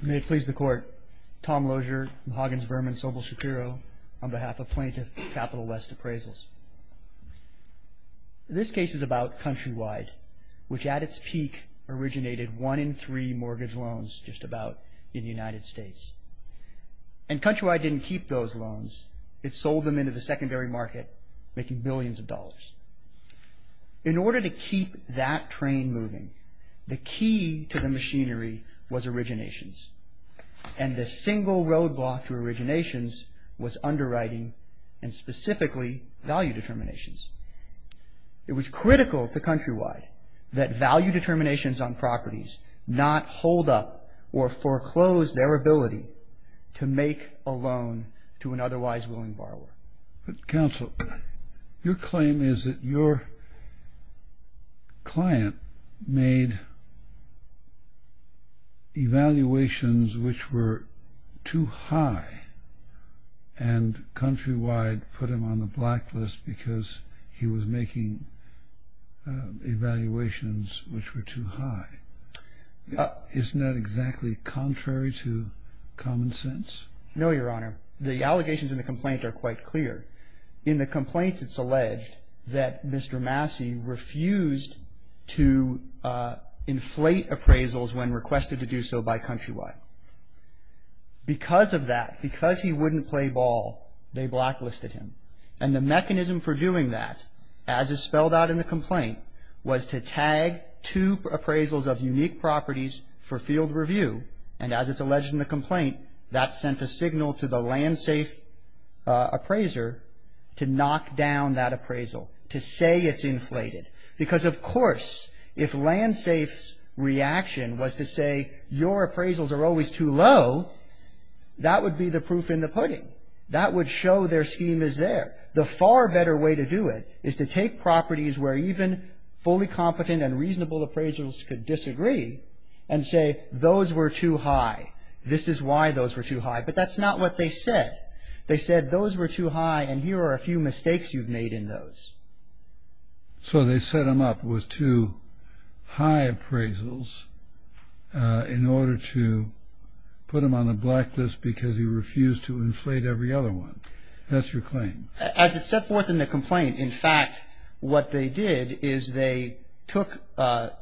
May it please the court, Tom Lozier, Mahogany's Burman, Sobel Shakiro, on behalf of plaintiff Capital West Appraisals. This case is about Countrywide, which at its peak originated one in three mortgage loans, just about, in the United States. And Countrywide didn't keep those loans, it sold them into the secondary market, making billions of dollars. In order to keep that train moving, the key to the machinery was originations. And the single roadblock to originations was underwriting, and specifically, value determinations. It was critical to Countrywide that value determinations on properties not hold up or foreclose their ability to make a loan to an otherwise willing borrower. But counsel, your claim is that your client made evaluations which were too high, and Countrywide put him on the blacklist because he was making evaluations which were too high. Isn't that exactly contrary to common sense? No, Your Honor. The allegations in the complaint are quite clear. In the complaint, it's alleged that Mr. Massey refused to inflate appraisals when requested to do so by Countrywide. Because of that, because he wouldn't play ball, they blacklisted him. And the mechanism for doing that, as is spelled out in the complaint, was to tag two appraisals of unique properties for field review. And as it's alleged in the complaint, that sent a signal to the land safe appraiser to knock down that appraisal, to say it's inflated. Because, of course, if land safe's reaction was to say your appraisals are always too low, that would be the proof in the pudding. That would show their scheme is there. The far better way to do it is to take properties where even fully competent and reasonable appraisers could disagree and say those were too high, this is why those were too high. But that's not what they said. They said those were too high and here are a few mistakes you've made in those. So they set him up with too high appraisals in order to put him on the blacklist because he refused to inflate every other one. That's your claim? As it's set forth in the complaint, in fact, what they did is they took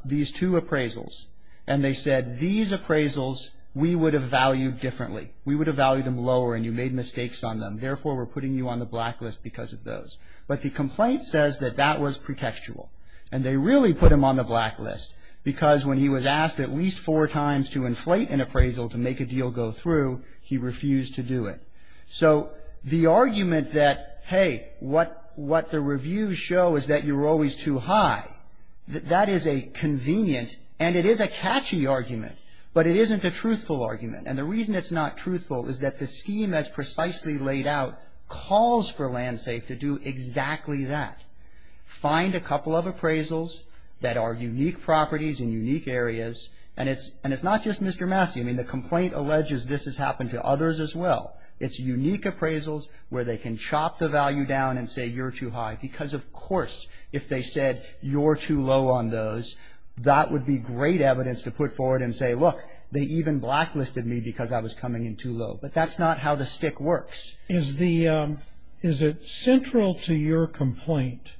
these two appraisals and they said these appraisals we would have valued differently. We would have valued them lower and you made mistakes on them. Therefore, we're putting you on the blacklist because of those. But the complaint says that that was pretextual and they really put him on the blacklist because when he was asked at least four times to inflate an appraisal to make a deal go through, he refused to do it. So the argument that, hey, what the reviews show is that you're always too high, that is a convenient and it is a catchy argument, but it isn't a truthful argument. And the reason it's not truthful is that the scheme as precisely laid out calls for LandSafe to do exactly that, find a couple of appraisals that are unique properties in unique areas. And it's not just Mr. Massey. I mean, the complaint alleges this has happened to others as well. It's unique appraisals where they can chop the value down and say you're too high because, of course, if they said you're too low on those, that would be great evidence to put forward and say, look, they even blacklisted me because I was coming in too low. But that's not how the stick works. Is it central to your complaint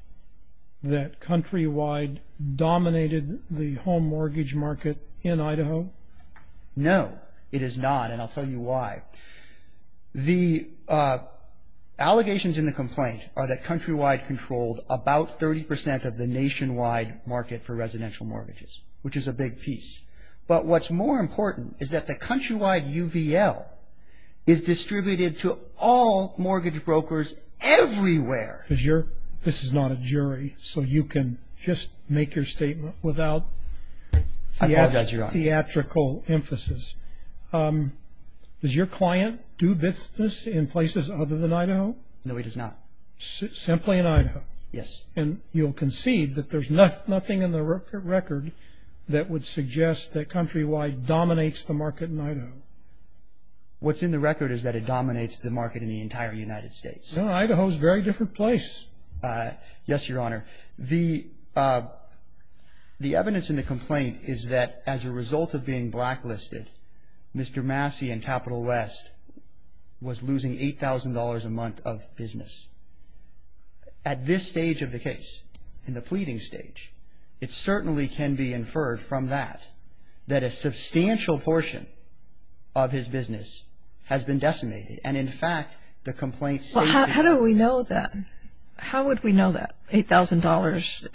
that Countrywide dominated the home mortgage market in Idaho? No. It is not, and I'll tell you why. The allegations in the complaint are that Countrywide controlled about 30 percent of the nationwide market for residential mortgages, which is a big piece. But what's more important is that the Countrywide UVL is distributed to all mortgage brokers everywhere. This is not a jury, so you can just make your statement without the theatrics. Just for theatrical emphasis, does your client do business in places other than Idaho? No, he does not. Simply in Idaho? Yes. And you'll concede that there's nothing in the record that would suggest that Countrywide dominates the market in Idaho? What's in the record is that it dominates the market in the entire United States. No, Idaho is a very different place. Yes, Your Honor. The evidence in the complaint is that as a result of being blacklisted, Mr. Massey in Capital West was losing $8,000 a month of business. At this stage of the case, in the pleading stage, it certainly can be inferred from that, that a substantial portion of his business has been decimated. And, in fact, the complaint states that. Well, how do we know that? How would we know that $8,000,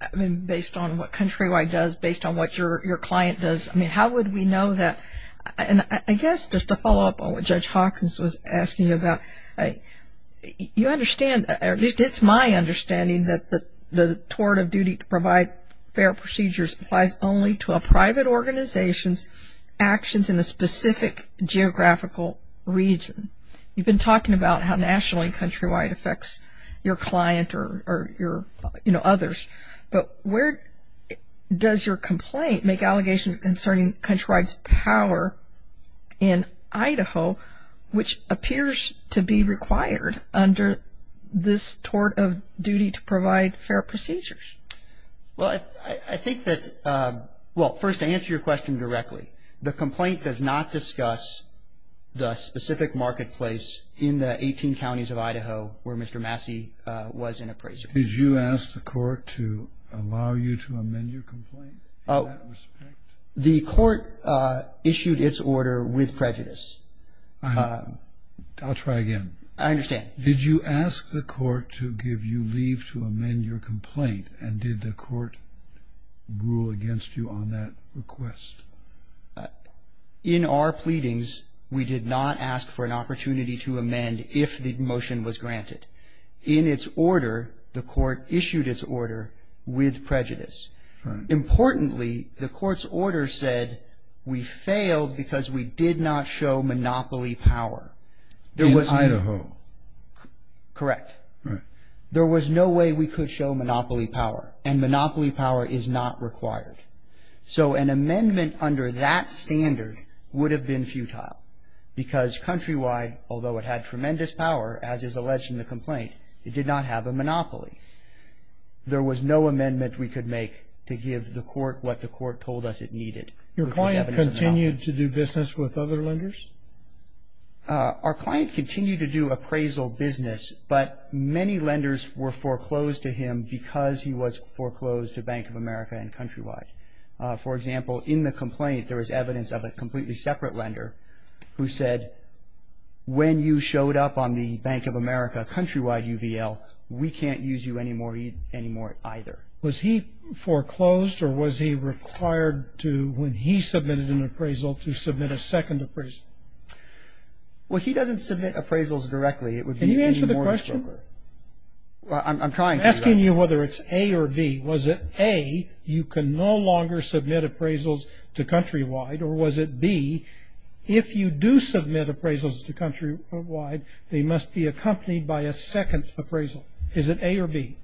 I mean, based on what Countrywide does, based on what your client does? I mean, how would we know that? And I guess just to follow up on what Judge Hawkins was asking about, you understand, at least it's my understanding, that the tort of duty to provide fair procedures applies only to a private organization's actions in a specific geographical region. You've been talking about how nationally Countrywide affects your client or, you know, others. But where does your complaint make allegations concerning Countrywide's power in Idaho, which appears to be required under this tort of duty to provide fair procedures? Well, I think that, well, first, to answer your question directly, the complaint does not discuss the specific marketplace in the 18 counties of Idaho where Mr. Massey was an appraiser. Did you ask the court to allow you to amend your complaint in that respect? The court issued its order with prejudice. I'll try again. I understand. Did you ask the court to give you leave to amend your complaint, and did the court rule against you on that request? In our pleadings, we did not ask for an opportunity to amend if the motion was granted. In its order, the court issued its order with prejudice. Importantly, the court's order said we failed because we did not show monopoly power. In Idaho. Correct. Right. There was no way we could show monopoly power, and monopoly power is not required. So an amendment under that standard would have been futile because Countrywide, although it had tremendous power, as is alleged in the complaint, it did not have a monopoly. There was no amendment we could make to give the court what the court told us it needed. Your client continued to do business with other lenders? Our client continued to do appraisal business, but many lenders were foreclosed to him because he was foreclosed to Bank of America and Countrywide. For example, in the complaint, there was evidence of a completely separate lender who said when you showed up on the Bank of America Countrywide UVL, we can't use you anymore either. Was he foreclosed, or was he required to, when he submitted an appraisal, to submit a second appraisal? Well, he doesn't submit appraisals directly. Can you answer the question? I'm trying to. I'm asking you whether it's A or B. Was it A, you can no longer submit appraisals to Countrywide, or was it B, if you do submit appraisals to Countrywide, they must be accompanied by a second appraisal? Is it A or B?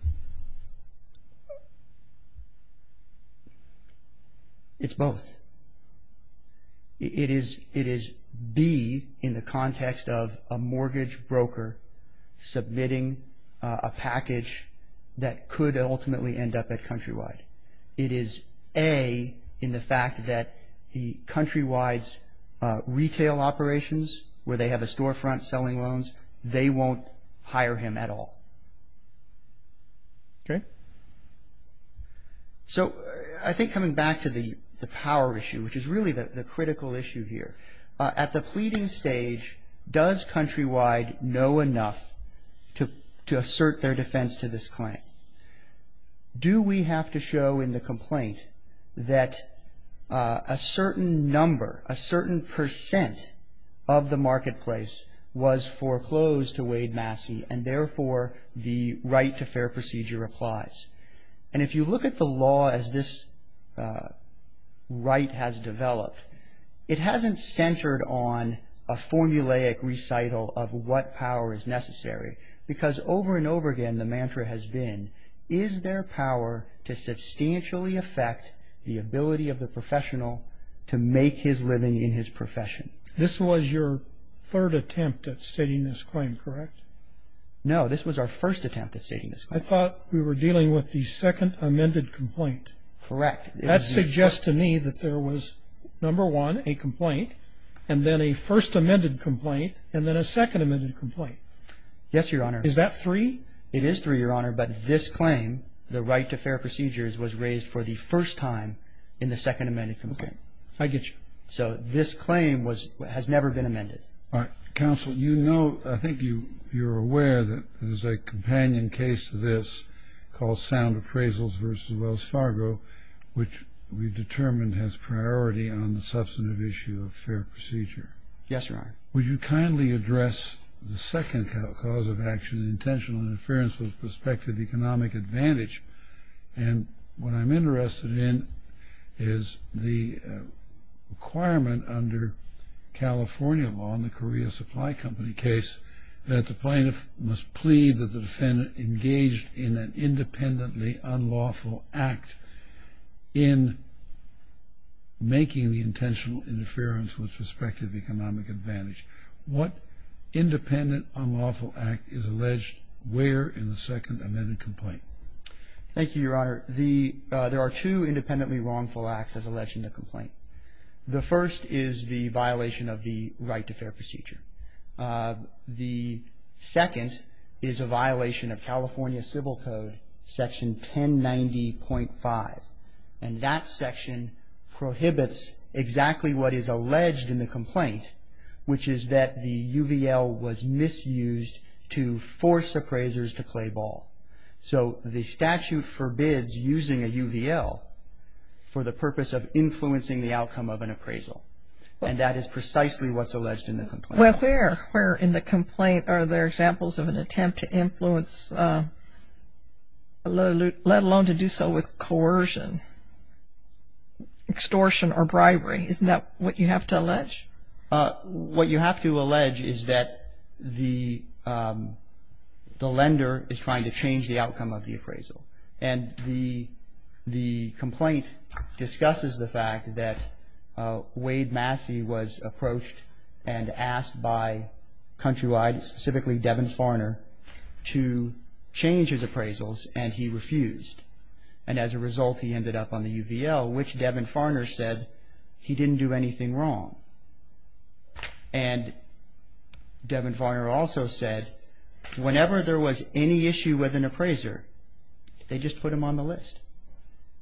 It's both. It is B in the context of a mortgage broker submitting a package that could ultimately end up at Countrywide. It is A in the fact that Countrywide's retail operations, where they have a storefront selling loans, they won't hire him at all. Okay. So I think coming back to the power issue, which is really the critical issue here. At the pleading stage, does Countrywide know enough to assert their defense to this claim? Do we have to show in the complaint that a certain number, a certain percent of the marketplace was foreclosed to Wade Massey, and therefore the right to fair procedure applies? And if you look at the law as this right has developed, it hasn't centered on a formulaic recital of what power is necessary, because over and over again the mantra has been, is there power to substantially affect the ability of the professional to make his living in his profession? This was your third attempt at stating this claim, correct? No, this was our first attempt at stating this claim. I thought we were dealing with the second amended complaint. Correct. That suggests to me that there was, number one, a complaint, and then a first amended complaint, and then a second amended complaint. Yes, Your Honor. Is that three? It is three, Your Honor, but this claim, the right to fair procedures, was raised for the first time in the second amended complaint. Okay. I get you. So this claim has never been amended. All right. Counsel, you know, I think you're aware that there's a companion case to this called Sound Appraisals v. Wells Fargo, which we've determined has priority on the substantive issue of fair procedure. Yes, Your Honor. Would you kindly address the second cause of action, intentional interference with prospective economic advantage? And what I'm interested in is the requirement under California law in the Korea Supply Company case that the plaintiff must plead that the defendant engaged in an independently unlawful act in making the intentional interference with prospective economic advantage. What independent unlawful act is alleged where in the second amended complaint? Thank you, Your Honor. There are two independently wrongful acts as alleged in the complaint. The first is the violation of the right to fair procedure. The second is a violation of California Civil Code, Section 1090.5. And that section prohibits exactly what is alleged in the complaint, which is that the UVL was misused to force appraisers to play ball. So the statute forbids using a UVL for the purpose of influencing the outcome of an appraisal. And that is precisely what's alleged in the complaint. Well, where in the complaint are there examples of an attempt to influence, let alone to do so with coercion, extortion or bribery? Isn't that what you have to allege? What you have to allege is that the lender is trying to change the outcome of the appraisal. And the complaint discusses the fact that Wade Massey was approached and asked by Countrywide, specifically Devin Farner, to change his appraisals, and he refused. And as a result, he ended up on the UVL, which Devin Farner said he didn't do anything wrong. And Devin Farner also said whenever there was any issue with an appraiser, they just put him on the list.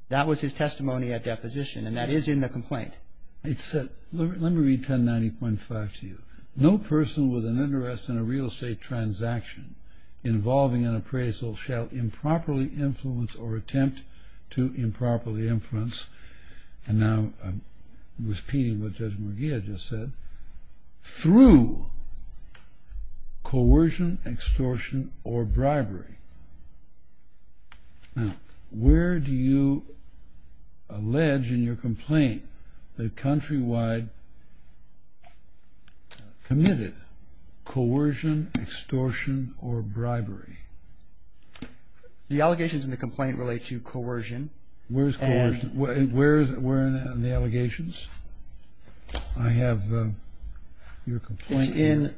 That was his testimony at deposition, and that is in the complaint. Let me read 1090.5 to you. No person with an interest in a real estate transaction involving an appraisal And now I'm repeating what Judge McGee had just said. Through coercion, extortion or bribery. Now, where do you allege in your complaint that Countrywide committed coercion, extortion or bribery? The allegations in the complaint relate to coercion. Where is coercion? Where are the allegations? I have your complaint here. It's in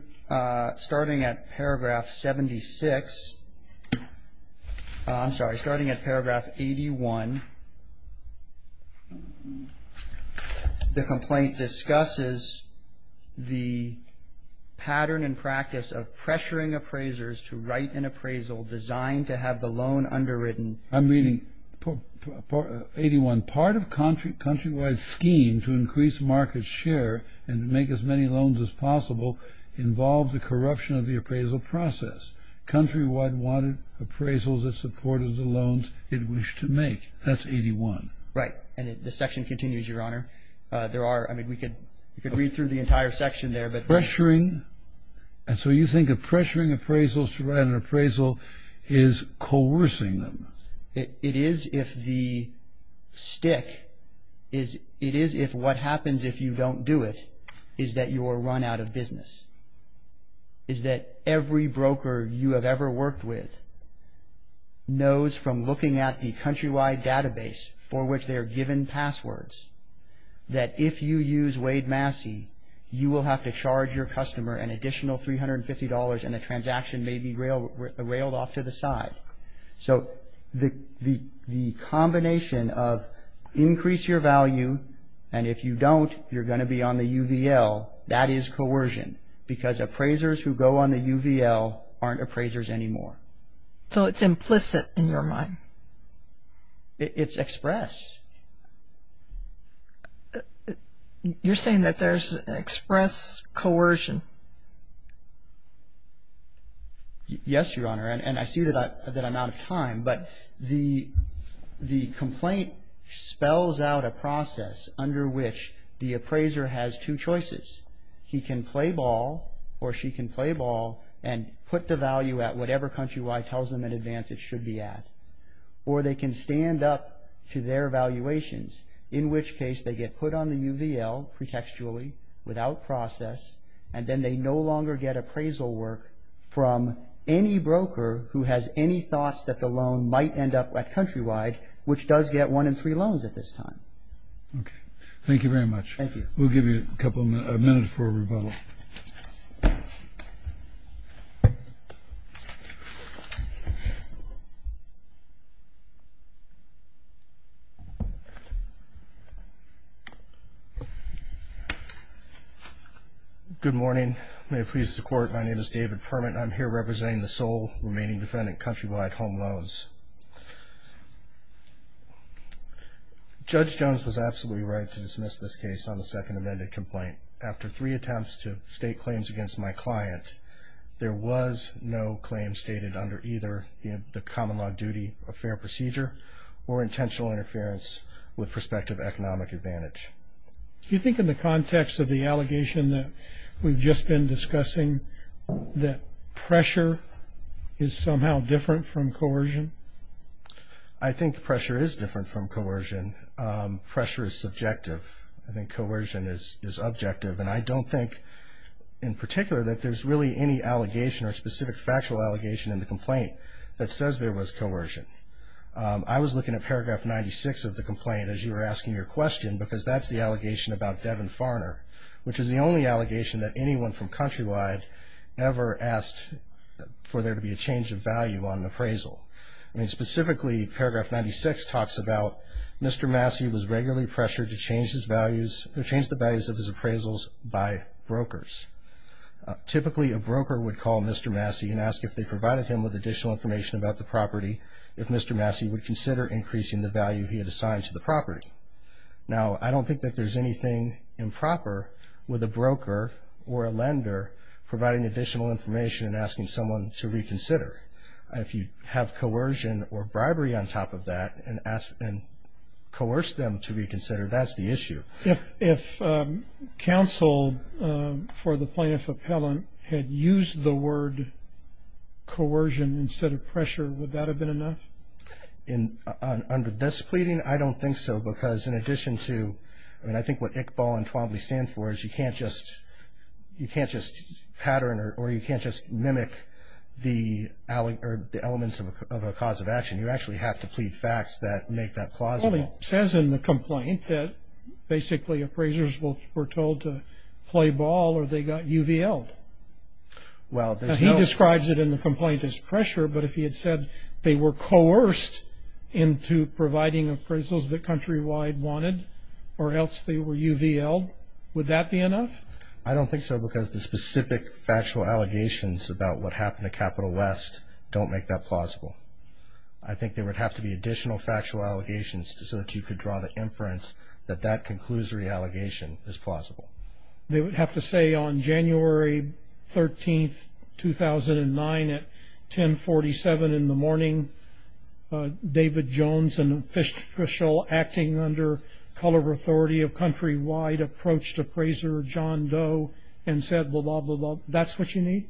starting at paragraph 76. I'm sorry, starting at paragraph 81. The complaint discusses the pattern and practice of pressuring appraisers to write an appraisal designed to have the loan underwritten. I'm reading 81. Part of Countrywide's scheme to increase market share and make as many loans as possible involves the corruption of the appraisal process. Countrywide wanted appraisals that supported the loans it wished to make. That's 81. Right. And the section continues, Your Honor. There are, I mean, we could read through the entire section there. Pressuring. And so you think that pressuring appraisals to write an appraisal is coercing them. It is if the stick is, it is if what happens if you don't do it is that you are run out of business, is that every broker you have ever worked with knows from looking at the Countrywide database for which they are given passwords that if you use Wade Massey, you will have to charge your customer an additional $350 and the transaction may be railed off to the side. So the combination of increase your value and if you don't, you're going to be on the UVL, that is coercion because appraisers who go on the UVL aren't appraisers anymore. So it's implicit in your mind. It's express. You're saying that there's express coercion. Yes, Your Honor, and I see that I'm out of time, but the complaint spells out a process under which the appraiser has two choices. He can play ball or she can play ball and put the value at whatever Countrywide tells them in advance it should be at or they can stand up to their valuations, in which case they get put on the UVL pretextually without process and then they no longer get appraisal work from any broker who has any thoughts that the loan might end up at Countrywide, which does get one in three loans at this time. Okay. Thank you very much. Thank you. We'll give you a minute for rebuttal. Good morning. May it please the Court, my name is David Permit and I'm here representing the sole remaining defendant, Countrywide Home Loans. Judge Jones was absolutely right to dismiss this case on the second amended complaint. After three attempts to state claims against my client, there was no claim stated under either the common law duty of fair procedure or intentional interference with prospective economic advantage. Do you think in the context of the allegation that we've just been discussing that pressure is somehow different from coercion? I think pressure is different from coercion. Pressure is subjective. I think coercion is objective. And I don't think in particular that there's really any allegation or specific factual allegation in the complaint that says there was coercion. I was looking at paragraph 96 of the complaint as you were asking your question because that's the allegation about Devin Farner, which is the only allegation that anyone from Countrywide ever asked for there to be a change of value on an appraisal. Specifically, paragraph 96 talks about Mr. Massey was regularly pressured to change the values of his appraisals by brokers. Typically, a broker would call Mr. Massey and ask if they provided him with additional information about the property if Mr. Massey would consider increasing the value he had assigned to the property. Now, I don't think that there's anything improper with a broker or a lender providing additional information and asking someone to reconsider. If you have coercion or bribery on top of that and coerce them to reconsider, that's the issue. If counsel for the plaintiff appellant had used the word coercion instead of pressure, would that have been enough? Under this pleading, I don't think so because in addition to and I think what ICBAL and TWABLY stand for is you can't just pattern or you can't just mimic the elements of a cause of action. You actually have to plead facts that make that plausible. Well, he says in the complaint that basically appraisers were told to play ball or they got UVL'd. He describes it in the complaint as pressure, but if he had said they were coerced into providing appraisals that Countrywide wanted or else they were UVL'd, would that be enough? I don't think so because the specific factual allegations about what happened at Capital West don't make that plausible. I think there would have to be additional factual allegations so that you could draw the inference that that conclusory allegation is plausible. They would have to say on January 13, 2009 at 1047 in the morning, David Jones, an official acting under color authority of Countrywide, approached appraiser John Doe and said blah, blah, blah. That's what you need?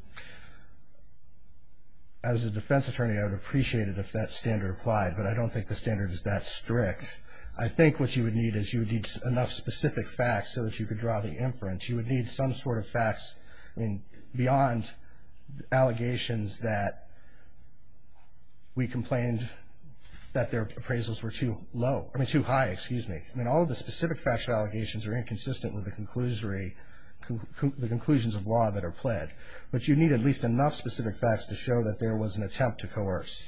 As a defense attorney, I would appreciate it if that standard applied, but I don't think the standard is that strict. I think what you would need is you would need enough specific facts so that you could draw the inference. You would need some sort of facts beyond allegations that we complained that their appraisals were too high. All the specific factual allegations are inconsistent with the conclusions of law that are pled, but you need at least enough specific facts to show that there was an attempt to coerce,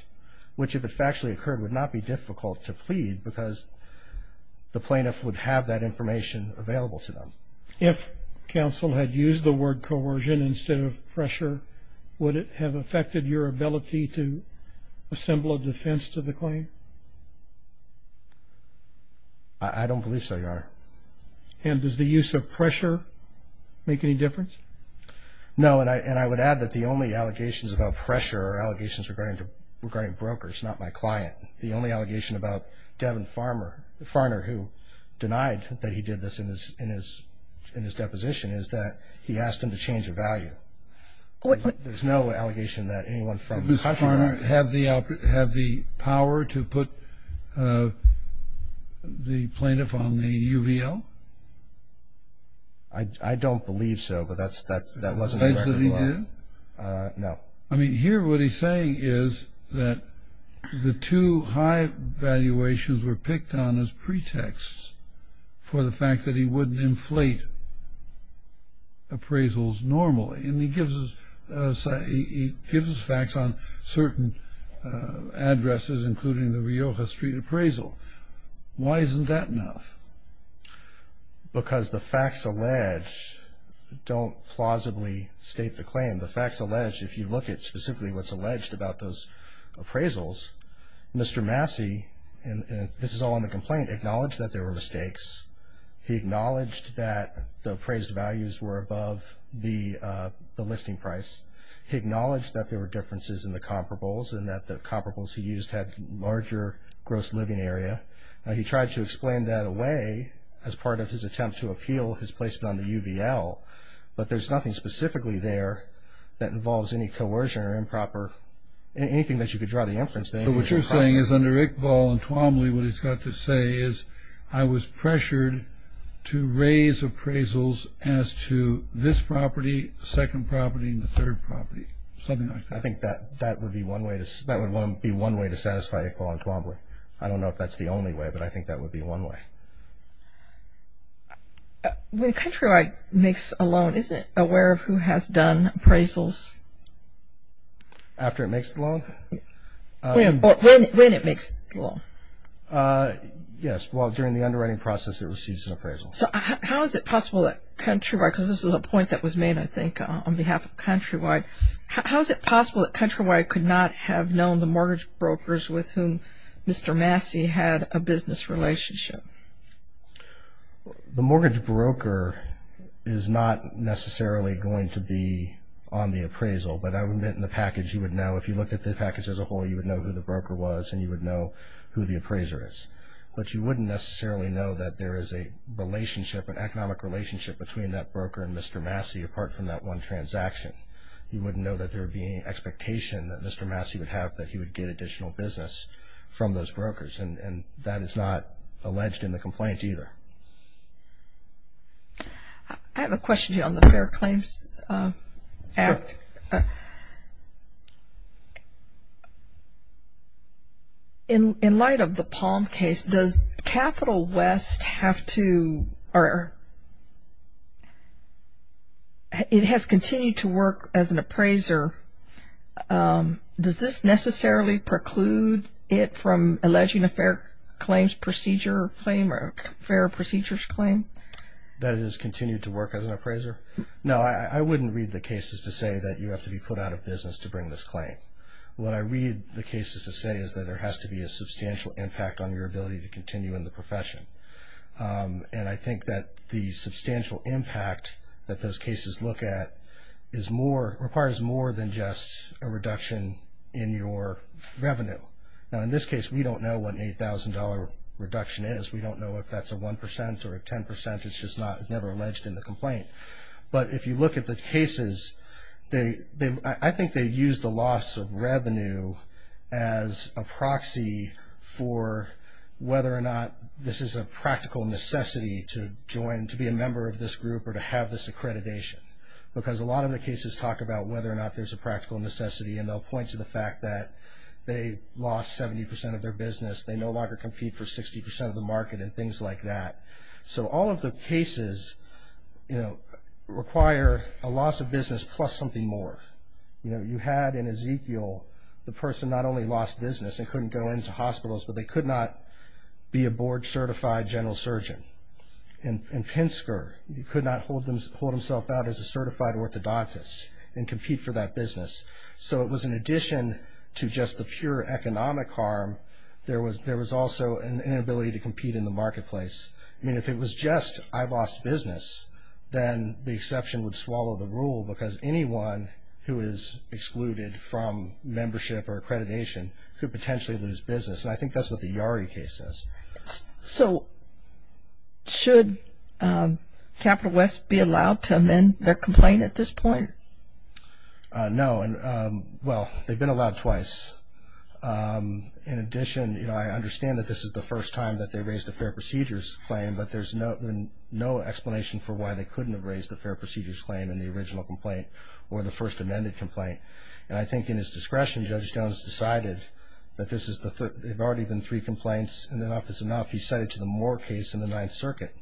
which if it factually occurred would not be difficult to plead because the plaintiff would have that information available to them. If counsel had used the word coercion instead of pressure, would it have affected your ability to assemble a defense to the claim? I don't believe so, Your Honor. And does the use of pressure make any difference? No, and I would add that the only allegations about pressure are allegations regarding brokers, not my client. The only allegation about Devin Farner, who denied that he did this in his deposition, is that he asked him to change the value. There's no allegation that anyone from the country. Does Farner have the power to put the plaintiff on the UVL? I don't believe so, but that wasn't a record. It's not that he did? No. I mean, here what he's saying is that the two high valuations were picked on as pretexts for the fact that he wouldn't inflate appraisals normally, and he gives us facts on certain addresses, including the Rioja Street appraisal. Why isn't that enough? Because the facts alleged don't plausibly state the claim. The facts alleged, if you look at specifically what's alleged about those appraisals, Mr. Massey, and this is all on the complaint, acknowledged that there were mistakes. He acknowledged that the appraised values were above the listing price. He acknowledged that there were differences in the comparables and that the comparables he used had larger gross living area. He tried to explain that away as part of his attempt to appeal his placement on the UVL, but there's nothing specifically there that involves any coercion or improper, anything that you could draw the inference to. But what you're saying is under Iqbal and Twombly, what he's got to say is I was pressured to raise appraisals as to this property, second property, and the third property, something like that. I think that would be one way to satisfy Iqbal and Twombly. I don't know if that's the only way, but I think that would be one way. When Countrywide makes a loan, isn't it aware of who has done appraisals? After it makes the loan? When it makes the loan. Yes, well, during the underwriting process, it receives an appraisal. So how is it possible that Countrywide, because this is a point that was made, I think, on behalf of Countrywide, how is it possible that Countrywide could not have known the mortgage brokers with whom Mr. Massey had a business relationship? The mortgage broker is not necessarily going to be on the appraisal, but I would admit in the package you would know, if you looked at the package as a whole, you would know who the broker was and you would know who the appraiser is. But you wouldn't necessarily know that there is a relationship, an economic relationship between that broker and Mr. Massey, apart from that one transaction. You wouldn't know that there would be any expectation that Mr. Massey would have that he would get additional business from those brokers. And that is not alleged in the complaint either. I have a question here on the Fair Claims Act. Sure. In light of the Palm case, does Capital West have to, or it has continued to work as an appraiser, does this necessarily preclude it from alleging a fair claims procedure claim or a fair procedures claim? That it has continued to work as an appraiser? No, I wouldn't read the cases to say that you have to be put out of business to bring this claim. What I read the cases to say is that there has to be a substantial impact on your ability to continue in the profession. And I think that the substantial impact that those cases look at is more, requires more than just a reduction in your revenue. Now, in this case, we don't know what an $8,000 reduction is. We don't know if that's a 1% or a 10%. It's just never alleged in the complaint. But if you look at the cases, I think they use the loss of revenue as a proxy for whether or not this is a practical necessity to join, to be a member of this group or to have this accreditation. Because a lot of the cases talk about whether or not there's a practical necessity. And they'll point to the fact that they lost 70% of their business. They no longer compete for 60% of the market and things like that. So all of the cases, you know, require a loss of business plus something more. You know, you had in Ezekiel the person not only lost business and couldn't go into hospitals, but they could not be a board-certified general surgeon. And Pinsker could not hold himself out as a certified orthodontist and compete for that business. So it was in addition to just the pure economic harm, there was also an inability to compete in the marketplace. I mean, if it was just I lost business, then the exception would swallow the rule because anyone who is excluded from membership or accreditation could potentially lose business. And I think that's what the Yari case says. So should Capital West be allowed to amend their complaint at this point? No. Well, they've been allowed twice. In addition, you know, I understand that this is the first time that they raised a fair procedures claim, but there's no explanation for why they couldn't have raised a fair procedures claim in the original complaint or the first amended complaint. And I think in his discretion, Judge Jones decided that this is the third. There have already been three complaints, and enough is enough. He cited to the Moore case in the Ninth Circuit.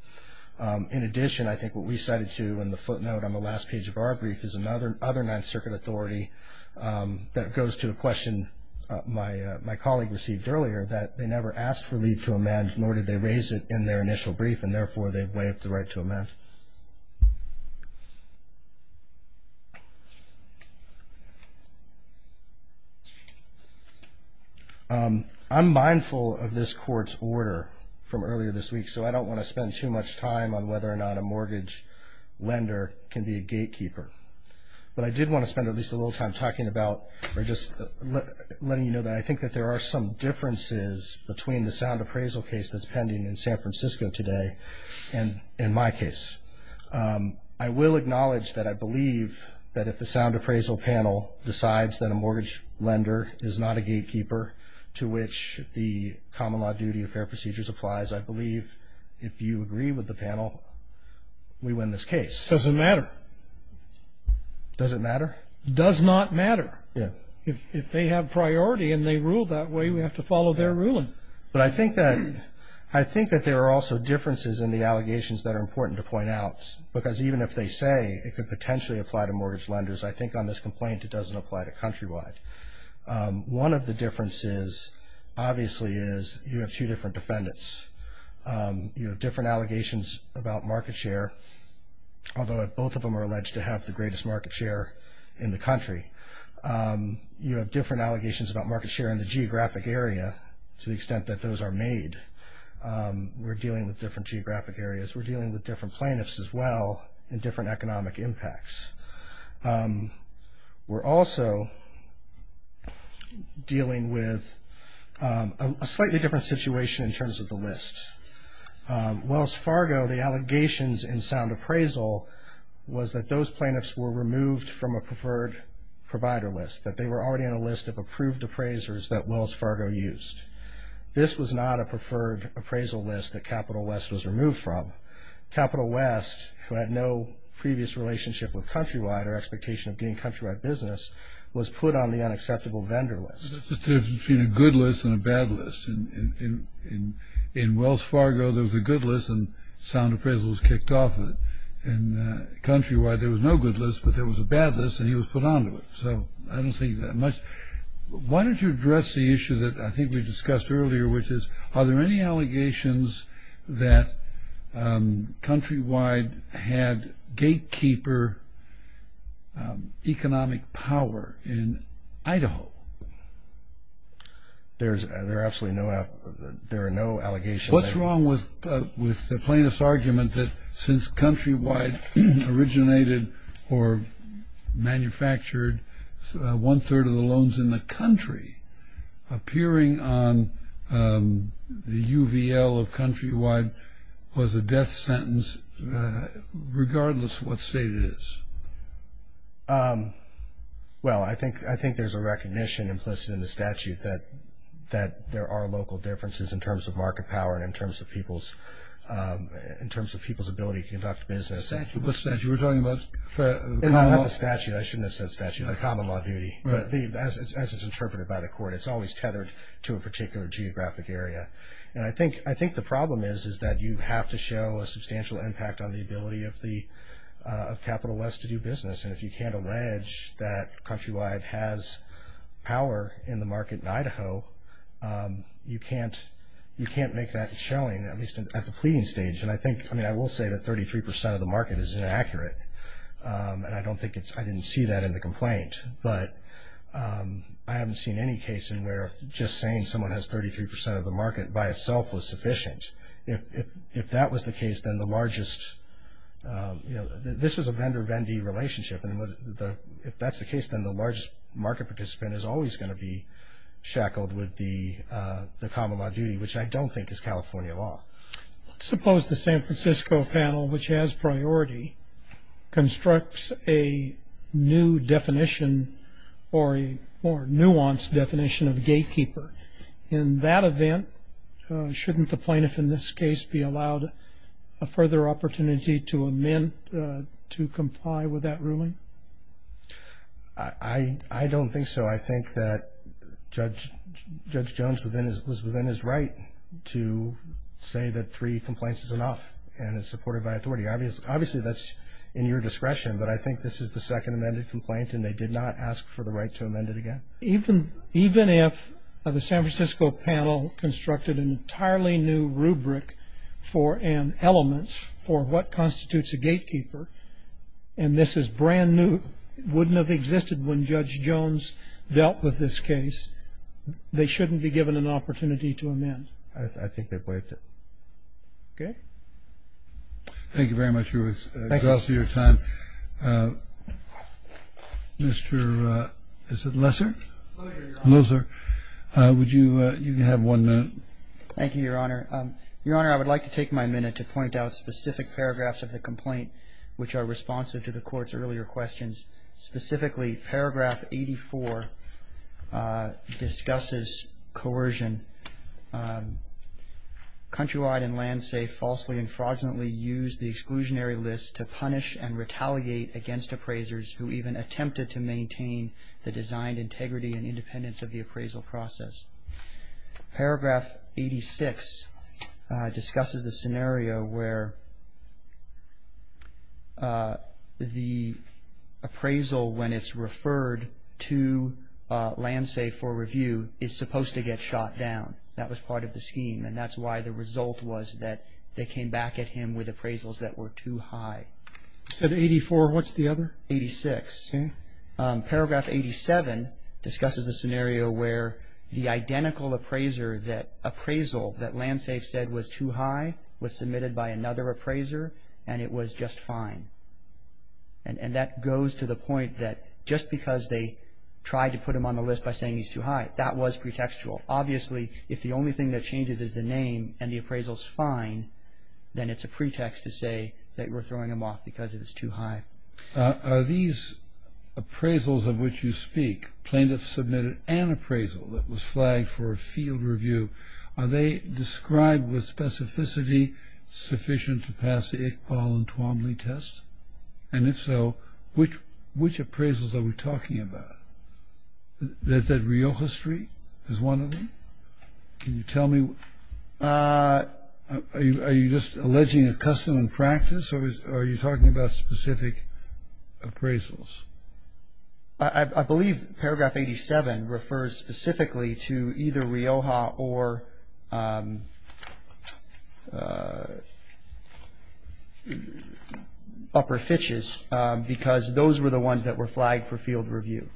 In addition, I think what we cited to in the footnote on the last page of our brief is another Ninth Circuit authority that goes to a question my colleague received earlier that they never asked for leave to amend, nor did they raise it in their initial brief, and therefore they've waived the right to amend. I'm mindful of this court's order from earlier this week, so I don't want to spend too much time on whether or not a mortgage lender can be a gatekeeper. But I did want to spend at least a little time talking about or just letting you know that I think that there are some differences between the sound appraisal case that's pending in San Francisco today and in my case. I will acknowledge that I believe that if the sound appraisal panel decides that a mortgage lender is not a gatekeeper, to which the common law duty of fair procedures applies, I believe if you agree with the panel, we win this case. Does it matter? Does it matter? Does not matter. Yeah. If they have priority and they rule that way, we have to follow their ruling. But I think that there are also differences in the allegations that are important to point out, because even if they say it could potentially apply to mortgage lenders, I think on this complaint it doesn't apply to countrywide. One of the differences, obviously, is you have two different defendants. You have different allegations about market share, although both of them are alleged to have the greatest market share in the country. You have different allegations about market share in the geographic area to the extent that those are made. We're dealing with different geographic areas. We're dealing with different plaintiffs as well and different economic impacts. We're also dealing with a slightly different situation in terms of the list. Wells Fargo, the allegations in sound appraisal, was that those plaintiffs were removed from a preferred provider list, that they were already on a list of approved appraisers that Wells Fargo used. This was not a preferred appraisal list that Capital West was removed from. Capital West, who had no previous relationship with countrywide or expectation of doing countrywide business, was put on the unacceptable vendor list. There's a difference between a good list and a bad list. In Wells Fargo, there was a good list, and sound appraisal was kicked off. In countrywide, there was no good list, but there was a bad list, and he was put onto it. So I don't think that much. Why don't you address the issue that I think we discussed earlier, which is are there any allegations that countrywide had gatekeeper economic power in Idaho? There are absolutely no allegations. What's wrong with the plaintiff's argument that since countrywide originated or manufactured one-third of the loans in the country, appearing on the UVL of countrywide was a death sentence regardless of what state it is? Well, I think there's a recognition implicit in the statute that there are local differences in terms of market power and in terms of people's ability to conduct business. What statute? We're talking about common law? Not the statute. I shouldn't have said statute. The common law duty, as it's interpreted by the court. It's always tethered to a particular geographic area. And I think the problem is that you have to show a substantial impact on the ability of capitalists to do business. And if you can't allege that countrywide has power in the market in Idaho, you can't make that showing, at least at the pleading stage. And I will say that 33% of the market is inaccurate, and I don't think I didn't see that in the complaint. But I haven't seen any case in where just saying someone has 33% of the market by itself was sufficient. If that was the case, then the largest, you know, this is a vendor-vendee relationship. And if that's the case, then the largest market participant is always going to be shackled with the common law duty, which I don't think is California law. Suppose the San Francisco panel, which has priority, constructs a new definition or a more nuanced definition of gatekeeper. In that event, shouldn't the plaintiff in this case be allowed a further opportunity to amend, to comply with that ruling? I don't think so. I think that Judge Jones was within his right to say that three complaints is enough and is supported by authority. Obviously, that's in your discretion, but I think this is the second amended complaint and they did not ask for the right to amend it again. Even if the San Francisco panel constructed an entirely new rubric for an element for what constitutes a gatekeeper, and this is brand new, wouldn't have existed when Judge Jones dealt with this case, they shouldn't be given an opportunity to amend. I think they've waived it. Okay. Thank you very much, Ruben. Thank you. It's also your time. Mr. Lesser? Hello, sir. Would you have one minute? Thank you, Your Honor. Your Honor, I would like to take my minute to point out specific paragraphs of the complaint which are responsive to the Court's earlier questions. Specifically, paragraph 84 discusses coercion. Paragraph 86 discusses the scenario where the appraisal when it's referred to LandSafe for review is supposed to get shot down. That was part of the scheme, and that's why the result was that they came back at him with appraisals that were too high. You said 84. What's the other? 86. Okay. Paragraph 87 discusses the scenario where the identical appraisal that LandSafe said was too high was submitted by another appraiser and it was just fine. And that goes to the point that just because they tried to put him on the list by saying he's too high, that was pretextual. Obviously, if the only thing that changes is the name and the appraisal's fine, then it's a pretext to say that we're throwing him off because it was too high. Are these appraisals of which you speak, plaintiffs submitted an appraisal that was flagged for a field review, are they described with specificity sufficient to pass the Iqbal and Twombly test? And if so, which appraisals are we talking about? Is that Rioja Street is one of them? Can you tell me? Are you just alleging a custom and practice, or are you talking about specific appraisals? I believe paragraph 87 refers specifically to either Rioja or Upper Fitches because those were the ones that were flagged for field review.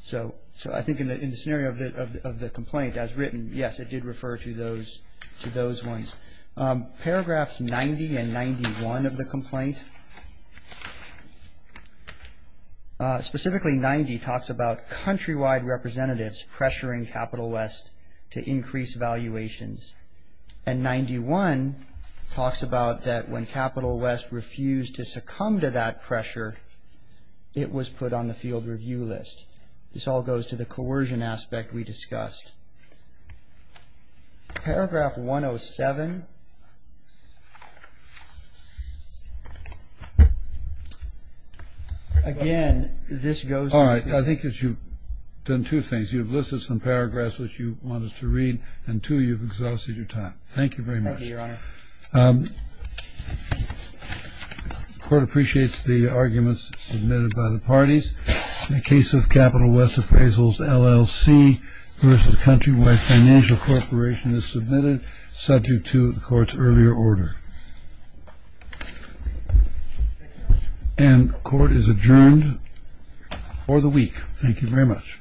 So I think in the scenario of the complaint as written, yes, it did refer to those ones. Paragraphs 90 and 91 of the complaint, specifically 90 talks about countrywide representatives pressuring Capital West to increase valuations, and 91 talks about that when Capital West refused to succumb to that pressure, it was put on the field review list. This all goes to the coercion aspect we discussed. Paragraph 107. Again, this goes to the... All right, I think that you've done two things. You've listed some paragraphs which you want us to read, and two, you've exhausted your time. Thank you very much. Thank you, Your Honor. The court appreciates the arguments submitted by the parties. In the case of Capital West Appraisals LLC versus Countrywide Financial Corporation is submitted, subject to the court's earlier order. And court is adjourned for the week. Thank you very much.